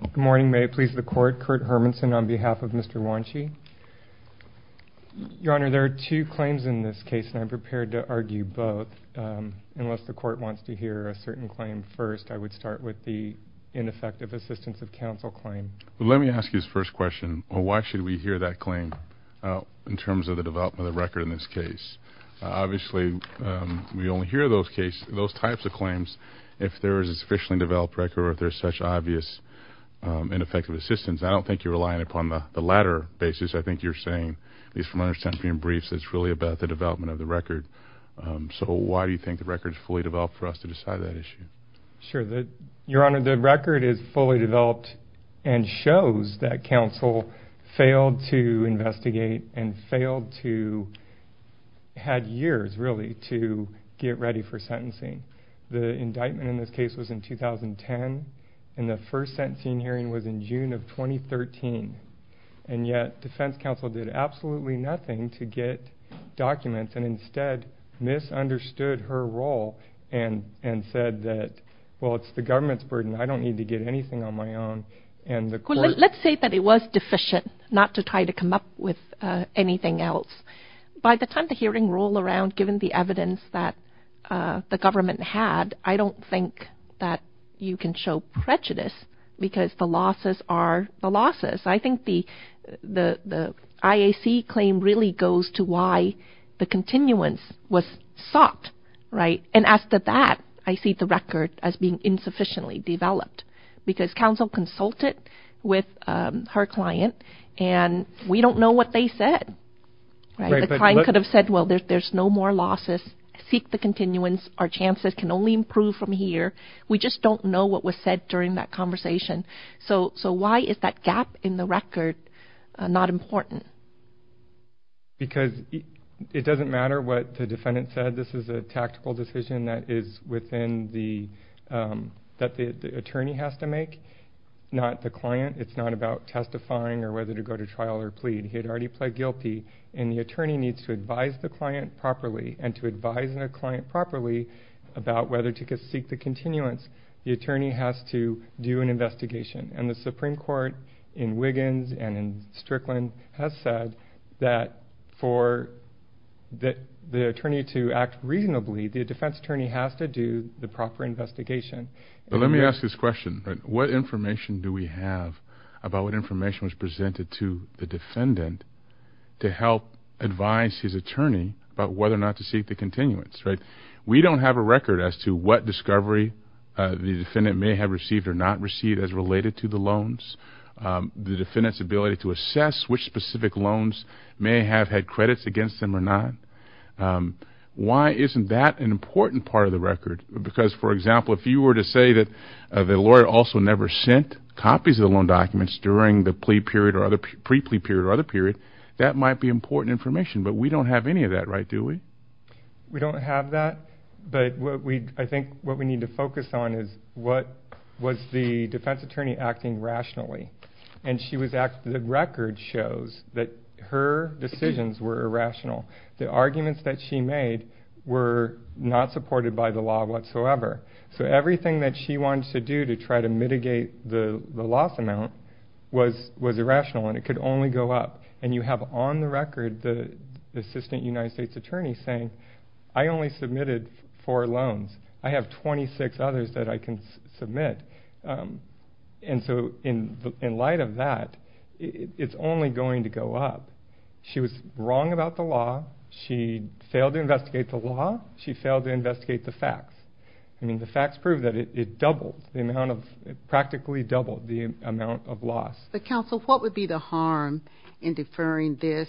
Good morning. May it please the Court, Kurt Hermanson on behalf of Mr. Juanchi. Your Honor, there are two claims in this case, and I'm prepared to argue both. Unless the Court wants to hear a certain claim first, I would start with the ineffective assistance of counsel claim. Let me ask you this first question. Why should we hear that claim in terms of the development of the record in this case? Obviously, we only hear those types of claims if there is a sufficiently developed record or if there is such obvious ineffective assistance. I don't think you're relying upon the latter basis. I think you're saying, at least from my understanding in briefs, that it's really about the development of the record. So why do you think the record is fully developed for us to decide that issue? Sure. Your Honor, the record is fully developed and shows that counsel failed to investigate and failed to have years, really, to get ready for sentencing. The indictment in this case was in 2010, and the first sentencing hearing was in June of 2013. And yet, defense counsel did absolutely nothing to get documents and instead misunderstood her role and said that, well, it's the government's burden. I don't need to get anything on my own. Let's say that it was deficient, not to try to come up with anything else. By the time the hearing rolled around, given the evidence that the government had, I don't think that you can show prejudice because the losses are the losses. I think the IAC claim really goes to why the continuance was sought. And as to that, I see the record as being insufficiently developed because counsel consulted with her client, and we don't know what they said. The client could have said, well, there's no more losses. Seek the continuance. Our chances can only improve from here. We just don't know what was said during that conversation. So why is that gap in the record not important? Because it doesn't matter what the defendant said. This is a tactical decision that the attorney has to make, not the client. It's not about testifying or whether to go to trial or plead. He had already pled guilty, and the attorney needs to advise the client properly, and to advise the client properly about whether to seek the continuance, the attorney has to do an investigation. And the Supreme Court in Wiggins and in Strickland has said that for the attorney to act reasonably, the defense attorney has to do the proper investigation. But let me ask this question. What information do we have about what information was presented to the defendant to help advise his attorney about whether or not to seek the continuance? We don't have a record as to what discovery the defendant may have received or not received as related to the loans, the defendant's ability to assess which specific loans may have had credits against them or not. Why isn't that an important part of the record? Because, for example, if you were to say that the lawyer also never sent copies of the loan documents during the pre-plea period or other period, that might be important information, but we don't have any of that, right, do we? We don't have that, but I think what we need to focus on is what was the defense attorney acting rationally. And the record shows that her decisions were irrational. The arguments that she made were not supported by the law whatsoever. So everything that she wanted to do to try to mitigate the loss amount was irrational and it could only go up. And you have on the record the assistant United States attorney saying, I only submitted four loans. I have 26 others that I can submit. And so in light of that, it's only going to go up. She was wrong about the law. She failed to investigate the law. She failed to investigate the facts. I mean, the facts prove that it doubled, practically doubled the amount of loss. But, counsel, what would be the harm in deferring this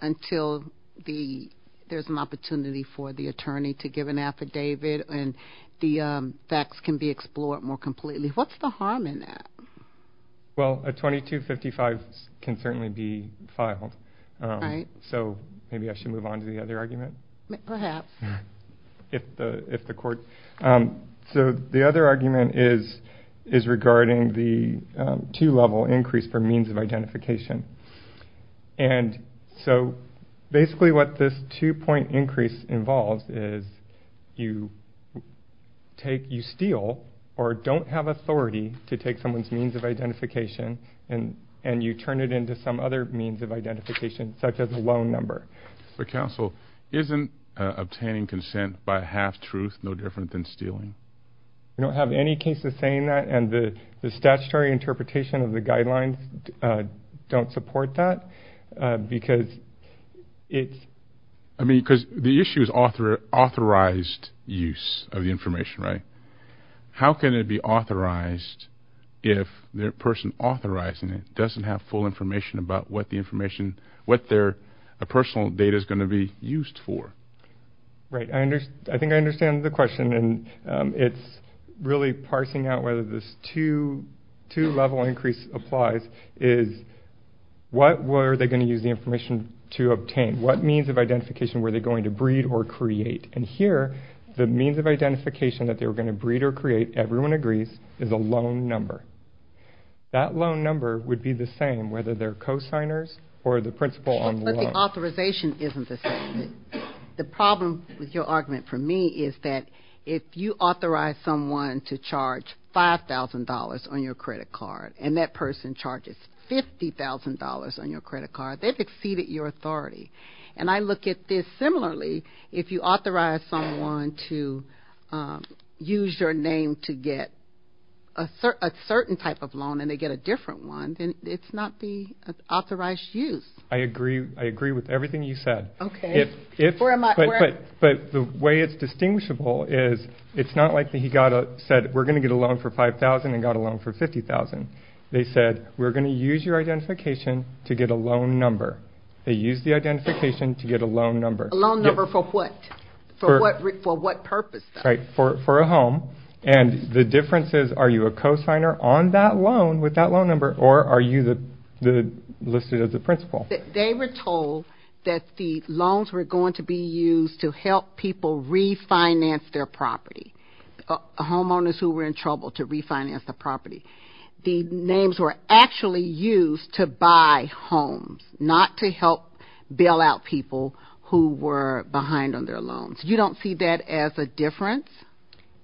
until there's an opportunity for the attorney to give an affidavit and the facts can be explored more completely? What's the harm in that? Well, a 2255 can certainly be filed. So maybe I should move on to the other argument. Perhaps. If the court... So the other argument is regarding the two-level increase for means of identification. And so basically what this two-point increase involves is you steal or don't have authority to take someone's means of identification and you turn it into some other means of identification, such as a loan number. But, counsel, isn't obtaining consent by half-truth no different than stealing? We don't have any cases saying that. And the statutory interpretation of the guidelines don't support that because it's... I mean, because the issue is authorized use of the information, right? How can it be authorized if the person authorizing it doesn't have full information about what the information, what their personal data is going to be used for? Right. I think I understand the question, and it's really parsing out whether this two-level increase applies, is what were they going to use the information to obtain? What means of identification were they going to breed or create? And here, the means of identification that they were going to breed or create, everyone agrees, is a loan number. That loan number would be the same whether they're cosigners or the principal on the loan. But the authorization isn't the same. The problem with your argument for me is that if you authorize someone to charge $5,000 on your credit card and that person charges $50,000 on your credit card, they've exceeded your authority. And I look at this similarly. If you authorize someone to use your name to get a certain type of loan and they get a different one, then it's not the authorized use. I agree with everything you said. Okay. But the way it's distinguishable is it's not like he said, we're going to get a loan for $5,000 and got a loan for $50,000. They said, we're going to use your identification to get a loan number. They used the identification to get a loan number. A loan number for what? For what purpose, though? Right. For a home. And the difference is, are you a cosigner on that loan with that loan number, or are you listed as a principal? They were told that the loans were going to be used to help people refinance their property, homeowners who were in trouble to refinance the property. The names were actually used to buy homes, not to help bail out people who were behind on their loans. You don't see that as a difference?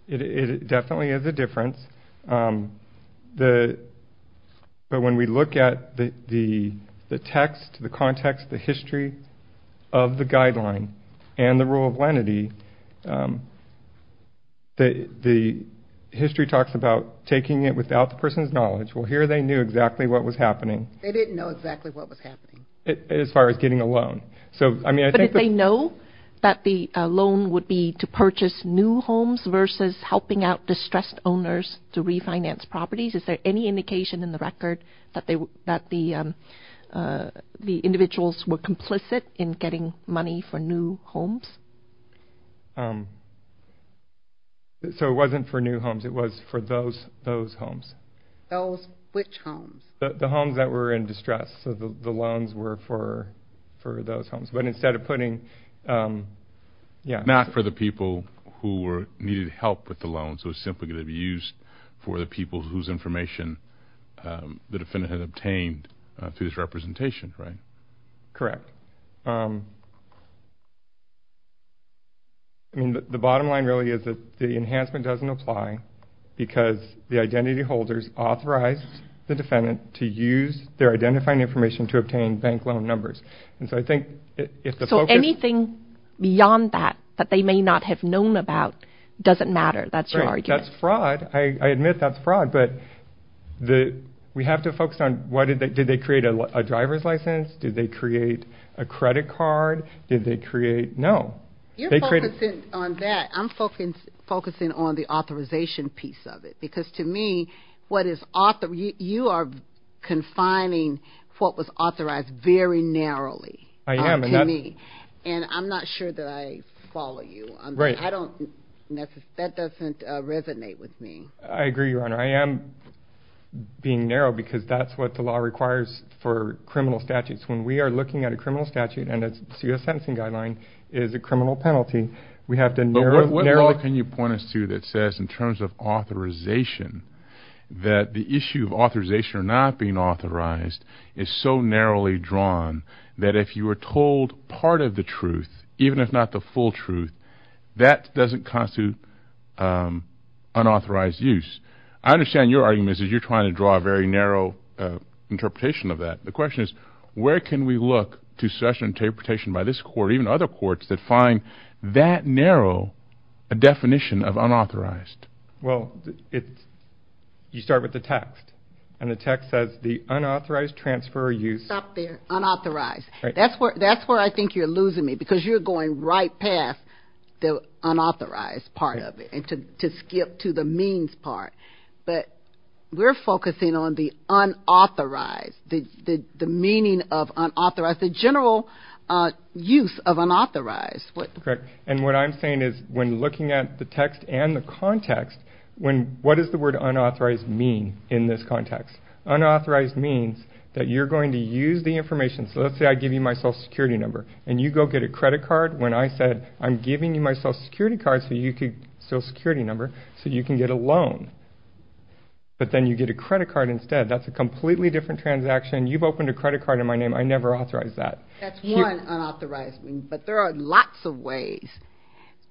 It definitely is a difference. But when we look at the text, the context, the history of the guideline and the rule of lenity, the history talks about taking it without the person's knowledge. Well, here they knew exactly what was happening. They didn't know exactly what was happening. As far as getting a loan. But did they know that the loan would be to purchase new homes versus helping out distressed owners to refinance properties? Is there any indication in the record that the individuals were complicit in getting money for new homes? So it wasn't for new homes. It was for those homes. Which homes? The homes that were in distress. So the loans were for those homes. But instead of putting, yeah. Not for the people who needed help with the loans. It was simply going to be used for the people whose information the defendant had obtained through this representation, right? Correct. I mean, the bottom line really is that the enhancement doesn't apply because the identity holders authorized the defendant to use their identifying information to obtain bank loan numbers. And so I think if the focus. So anything beyond that that they may not have known about doesn't matter. That's your argument. That's fraud. I admit that's fraud. But we have to focus on did they create a driver's license? Did they create a credit card? Did they create? No. You're focusing on that. I'm focusing on the authorization piece of it. Because to me, you are confining what was authorized very narrowly. I am. And I'm not sure that I follow you. Right. That doesn't resonate with me. I agree, Your Honor. I am being narrow because that's what the law requires for criminal statutes. When we are looking at a criminal statute and a sentencing guideline is a criminal penalty, we have to narrow it. But what law can you point us to that says in terms of authorization that the issue of authorization or not being authorized is so narrowly drawn that if you are told part of the truth, even if not the full truth, that doesn't constitute unauthorized use? I understand your argument is you're trying to draw a very narrow interpretation of that. The question is where can we look to such an interpretation by this court, even other courts that find that narrow a definition of unauthorized? Well, you start with the text. And the text says the unauthorized transfer or use. Stop there. Unauthorized. That's where I think you're losing me because you're going right past the unauthorized part of it and to skip to the means part. But we're focusing on the unauthorized, the meaning of unauthorized, the general use of unauthorized. Correct. And what I'm saying is when looking at the text and the context, what does the word unauthorized mean in this context? Unauthorized means that you're going to use the information. So let's say I give you my social security number and you go get a credit card. When I said I'm giving you my social security number so you can get a loan. But then you get a credit card instead. That's a completely different transaction. You've opened a credit card in my name. I never authorized that. That's one unauthorized. But there are lots of ways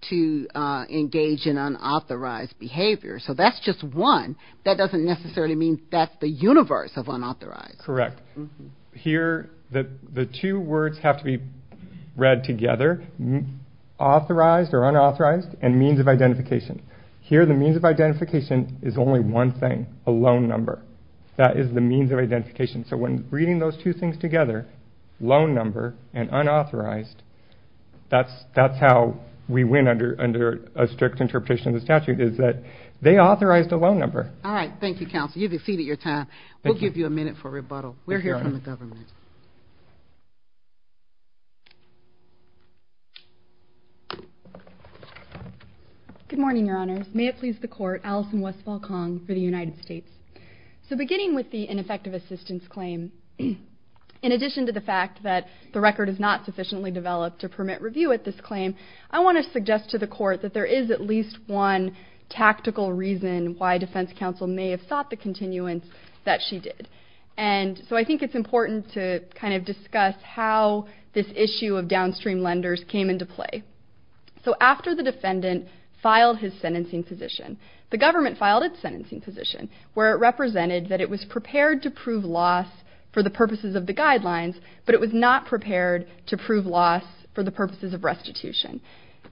to engage in unauthorized behavior. So that's just one. That doesn't necessarily mean that's the universe of unauthorized. Correct. Here the two words have to be read together, authorized or unauthorized, and means of identification. Here the means of identification is only one thing, a loan number. That is the means of identification. So when reading those two things together, loan number and unauthorized, that's how we win under a strict interpretation of the statute is that they authorized a loan number. All right. Thank you, counsel. You've exceeded your time. We'll give you a minute for rebuttal. We're here from the government. Good morning, Your Honors. May it please the Court. Allison Westfall-Kong for the United States. So beginning with the ineffective assistance claim, in addition to the fact that the record is not sufficiently developed to permit review at this claim, I want to suggest to the Court that there is at least one tactical reason why defense counsel may have sought the continuance that she did. And so I think it's important to kind of discuss how this issue of downstream lenders came into play. So after the defendant filed his sentencing position, the government filed its sentencing position, where it represented that it was prepared to prove loss for the purposes of the guidelines, but it was not prepared to prove loss for the purposes of restitution.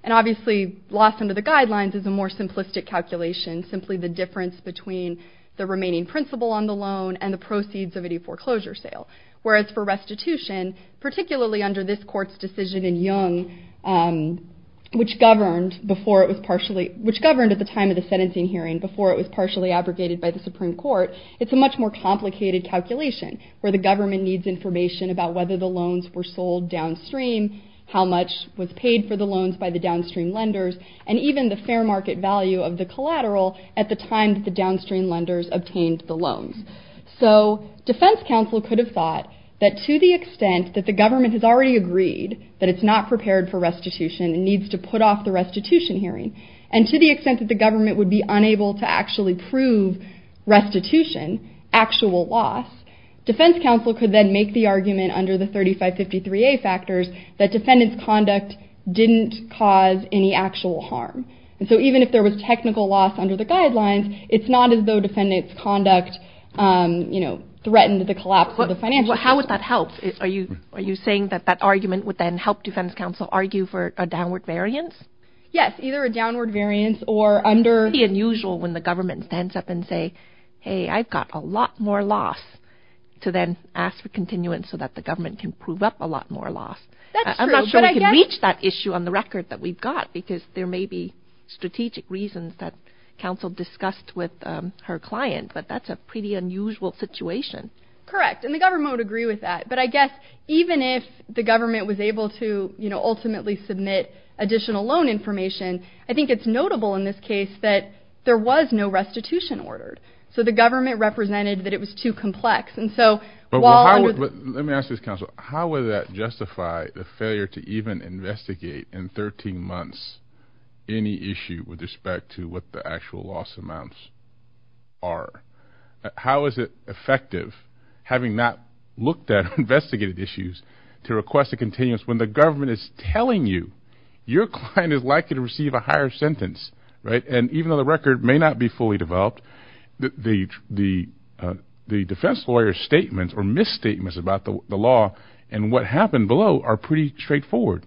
And obviously loss under the guidelines is a more simplistic calculation. Simply the difference between the remaining principle on the loan and the proceeds of any foreclosure sale. Whereas for restitution, particularly under this Court's decision in Young, which governed at the time of the sentencing hearing before it was partially abrogated by the Supreme Court, it's a much more complicated calculation where the government needs information about whether the loans were sold downstream, how much was paid for the loans by the downstream lenders, and even the fair market value of the collateral at the time that the downstream lenders obtained the loans. So defense counsel could have thought that to the extent that the government has already agreed that it's not prepared for restitution and needs to put off the restitution hearing, and to the extent that the government would be unable to actually prove restitution, actual loss, defense counsel could then make the argument under the 3553A factors that defendants' conduct didn't cause any actual harm. And so even if there was technical loss under the guidelines, it's not as though defendants' conduct threatened the collapse of the financial system. How would that help? Are you saying that that argument would then help defense counsel argue for a downward variance? Yes, either a downward variance or under... It's pretty unusual when the government stands up and says, hey, I've got a lot more loss, to then ask for continuance so that the government can prove up a lot more loss. I'm not sure we can reach that issue on the record that we've got because there may be strategic reasons that counsel discussed with her client, but that's a pretty unusual situation. Correct, and the government would agree with that. But I guess even if the government was able to ultimately submit additional loan information, I think it's notable in this case that there was no restitution ordered. So the government represented that it was too complex, and so while... Let me ask this, counsel. How would that justify the failure to even investigate in 13 months any issue with respect to what the actual loss amounts are? How is it effective, having not looked at or investigated issues, to request a continuance when the government is telling you your client is likely to receive a higher sentence? And even though the record may not be fully developed, the defense lawyer's statements or misstatements about the law and what happened below are pretty straightforward.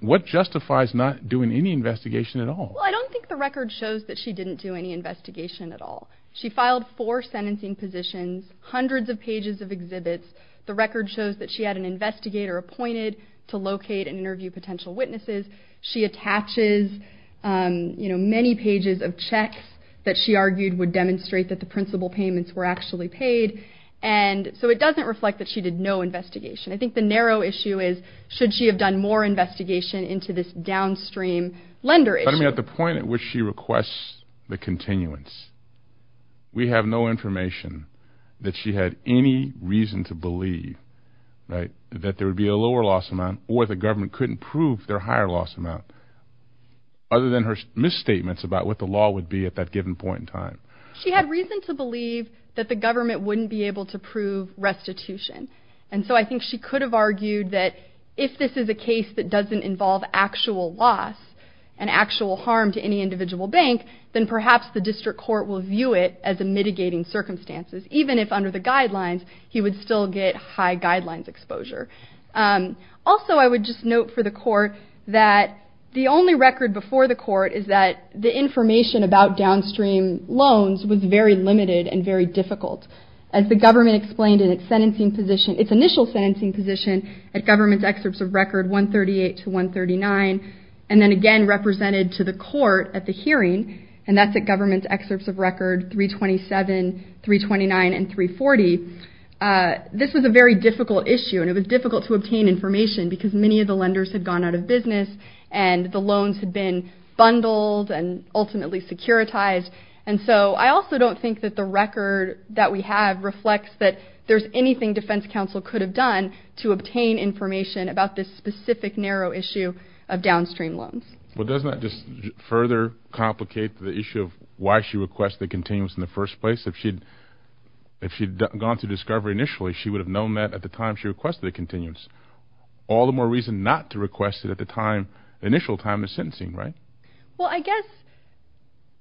What justifies not doing any investigation at all? Well, I don't think the record shows that she didn't do any investigation at all. She filed four sentencing positions, hundreds of pages of exhibits. The record shows that she had an investigator appointed to locate and interview potential witnesses. She attaches many pages of checks that she argued would demonstrate that the principal payments were actually paid. So it doesn't reflect that she did no investigation. I think the narrow issue is, should she have done more investigation into this downstream lender issue? But I mean, at the point at which she requests the continuance, we have no information that she had any reason to believe that there would be a lower loss amount or the government couldn't prove their higher loss amount, other than her misstatements about what the law would be at that given point in time. She had reason to believe that the government wouldn't be able to prove restitution. And so I think she could have argued that if this is a case that doesn't involve actual loss and actual harm to any individual bank, then perhaps the district court will view it as mitigating circumstances, even if under the guidelines, he would still get high guidelines exposure. Also, I would just note for the court that the only record before the court is that the information about downstream loans was very limited and very difficult. As the government explained in its initial sentencing position at government's excerpts of record 138 to 139, and then again represented to the court at the hearing, and that's at government's excerpts of record 327, 329, and 340. This was a very difficult issue, and it was difficult to obtain information because many of the lenders had gone out of business and the loans had been bundled and ultimately securitized. And so I also don't think that the record that we have reflects that there's anything defense counsel could have done to obtain information about this specific narrow issue of downstream loans. Well, doesn't that just further complicate the issue of why she requested the continuance in the first place? If she'd gone through discovery initially, she would have known that at the time she requested the continuance. All the more reason not to request it at the initial time of sentencing, right? Well, I guess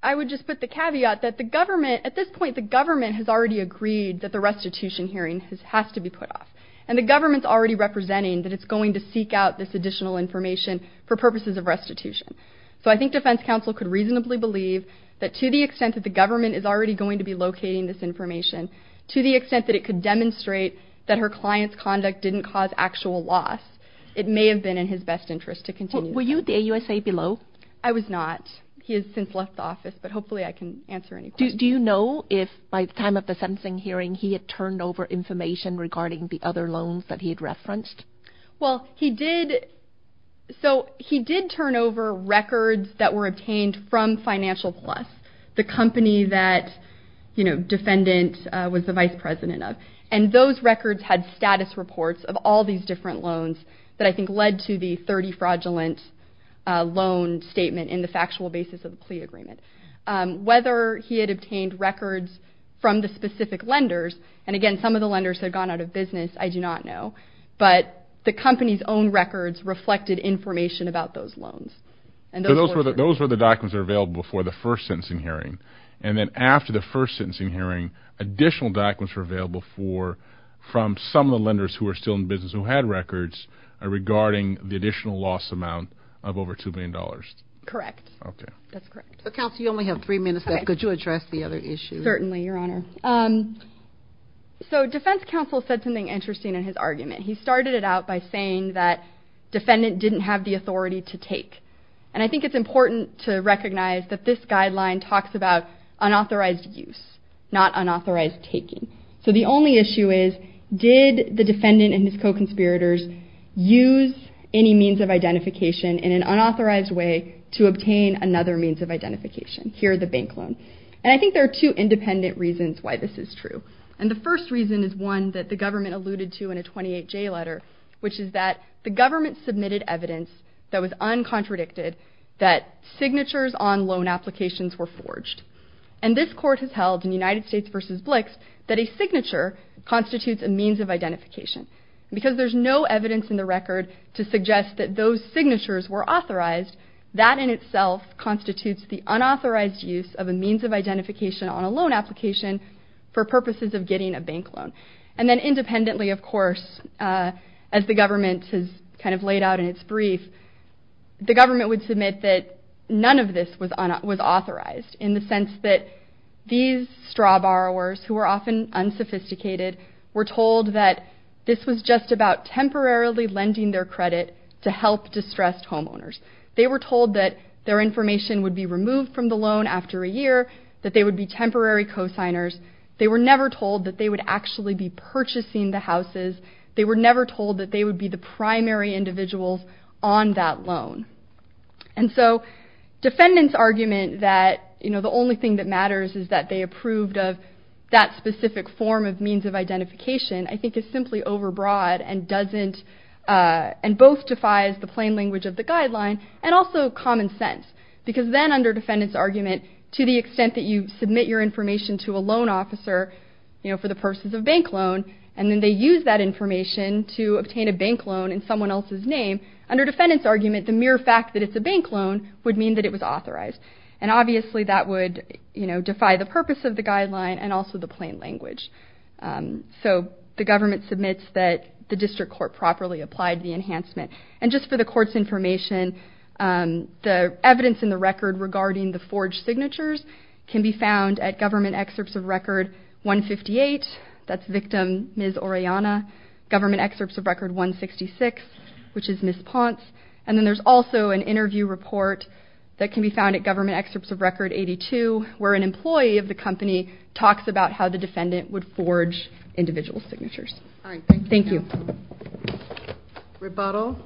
I would just put the caveat that the government, at this point the government has already agreed that the restitution hearing has to be put off. And the government's already representing that it's going to seek out this additional information for purposes of restitution. So I think defense counsel could reasonably believe that to the extent that the government is already going to be locating this information, to the extent that it could demonstrate that her client's conduct didn't cause actual loss, it may have been in his best interest to continue. Were you at the AUSA below? I was not. He has since left the office, but hopefully I can answer any questions. Do you know if by the time of the sentencing hearing he had turned over information regarding the other loans that he had referenced? Well, he did. So he did turn over records that were obtained from Financial Plus, the company that, you know, Defendant was the vice president of. And those records had status reports of all these different loans that I think led to the 30 fraudulent loan statement in the factual basis of the plea agreement. Whether he had obtained records from the specific lenders, and again, some of the lenders had gone out of business, I do not know, but the company's own records reflected information about those loans. So those were the documents that were available for the first sentencing hearing. And then after the first sentencing hearing, additional documents were available from some of the lenders who were still in business who had records regarding the additional loss amount of over $2 million. Correct. Okay. That's correct. Counsel, you only have three minutes left. Could you address the other issues? Certainly, Your Honor. So defense counsel said something interesting in his argument. He started it out by saying that Defendant didn't have the authority to take. And I think it's important to recognize that this guideline talks about unauthorized use, not unauthorized taking. So the only issue is, did the Defendant and his co-conspirators use any means of identification in an unauthorized way to obtain another means of identification? Here, the bank loan. And I think there are two independent reasons why this is true. And the first reason is one that the government alluded to in a 28J letter, which is that the government submitted evidence that was uncontradicted that signatures on loan applications were forged. And this court has held in United States v. Blix that a signature constitutes a means of identification. Because there's no evidence in the record to suggest that those signatures were authorized, that in itself constitutes the unauthorized use of a means of identification on a loan application for purposes of getting a bank loan. And then independently, of course, as the government has kind of laid out in its brief, the government would submit that none of this was authorized in the sense that these straw borrowers, who are often unsophisticated, were told that this was just about temporarily lending their credit to help distressed homeowners. They were told that their information would be removed from the loan after a year, that they would be temporary co-signers. They were never told that they would actually be purchasing the houses. They were never told that they would be the primary individuals on that loan. And so defendants' argument that the only thing that matters is that they approved of that specific form of means of identification, I think is simply overbroad and both defies the plain language of the guideline and also common sense. Because then under defendants' argument, to the extent that you submit your information to a loan officer for the purposes of a bank loan, and then they use that information to obtain a bank loan in someone else's name, under defendants' argument, the mere fact that it's a bank loan would mean that it was authorized. And obviously that would defy the purpose of the guideline and also the plain language. So the government submits that the district court properly applied the enhancement. And just for the court's information, the evidence in the record regarding the forged signatures can be found at government excerpts of record 158, that's victim Ms. Orellana, government excerpts of record 166, which is Ms. Ponce, and then there's also an interview report that can be found at government excerpts of record 82, where an employee of the company talks about how the defendant would forge individual signatures. Thank you. Rebuttal.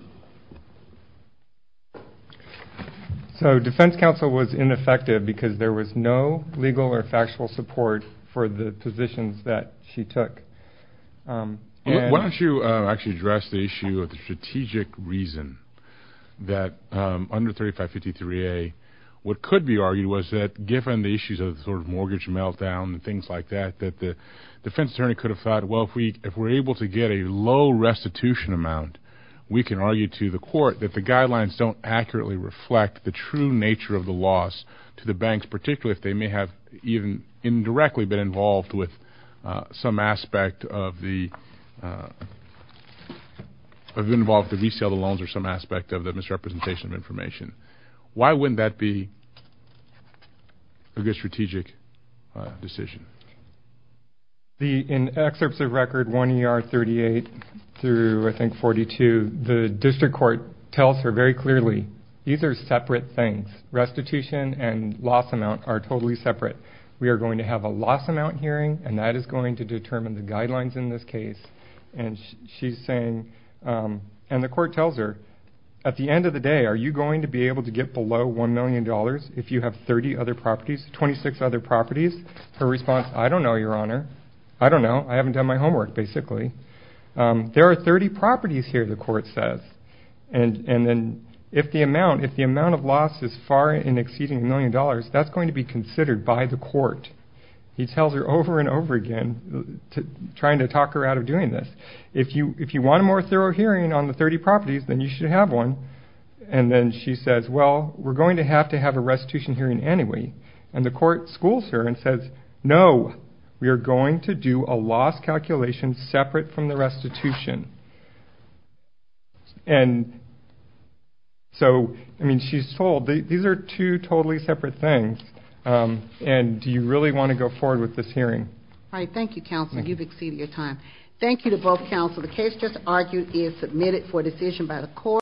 So defense counsel was ineffective because there was no legal or factual support for the positions that she took. Why don't you actually address the issue of the strategic reason that under 3553A what could be argued was that, given the issues of the sort of mortgage meltdown and things like that, that the defense attorney could have thought, well, if we're able to get a low restitution amount, we can argue to the court that the guidelines don't accurately reflect the true nature of the loss to the banks, particularly if they may have even indirectly been involved with some aspect of the have been involved with the resale of loans or some aspect of the misrepresentation of information. Why wouldn't that be a good strategic decision? In excerpts of record 1ER38 through, I think, 42, the district court tells her very clearly these are separate things. Restitution and loss amount are totally separate. We are going to have a loss amount hearing, and that is going to determine the guidelines in this case and she's saying, and the court tells her, at the end of the day are you going to be able to get below $1 million if you have 30 other properties, 26 other properties? Her response, I don't know, Your Honor. I don't know. I haven't done my homework, basically. There are 30 properties here, the court says, and then if the amount of loss is far in exceeding $1 million, that's going to be considered by the court. He tells her over and over again, trying to talk her out of doing this, if you want a more thorough hearing on the 30 properties, then you should have one, and then she says, well, we're going to have to have a restitution hearing anyway, and the court schools her and says, no, we are going to do a loss calculation separate from the restitution. And so, I mean, she's told these are two totally separate things, and do you really want to go forward with this hearing? All right. Thank you, counsel. You've exceeded your time. Thank you to both counsel. The case just argued is submitted for decision by the court.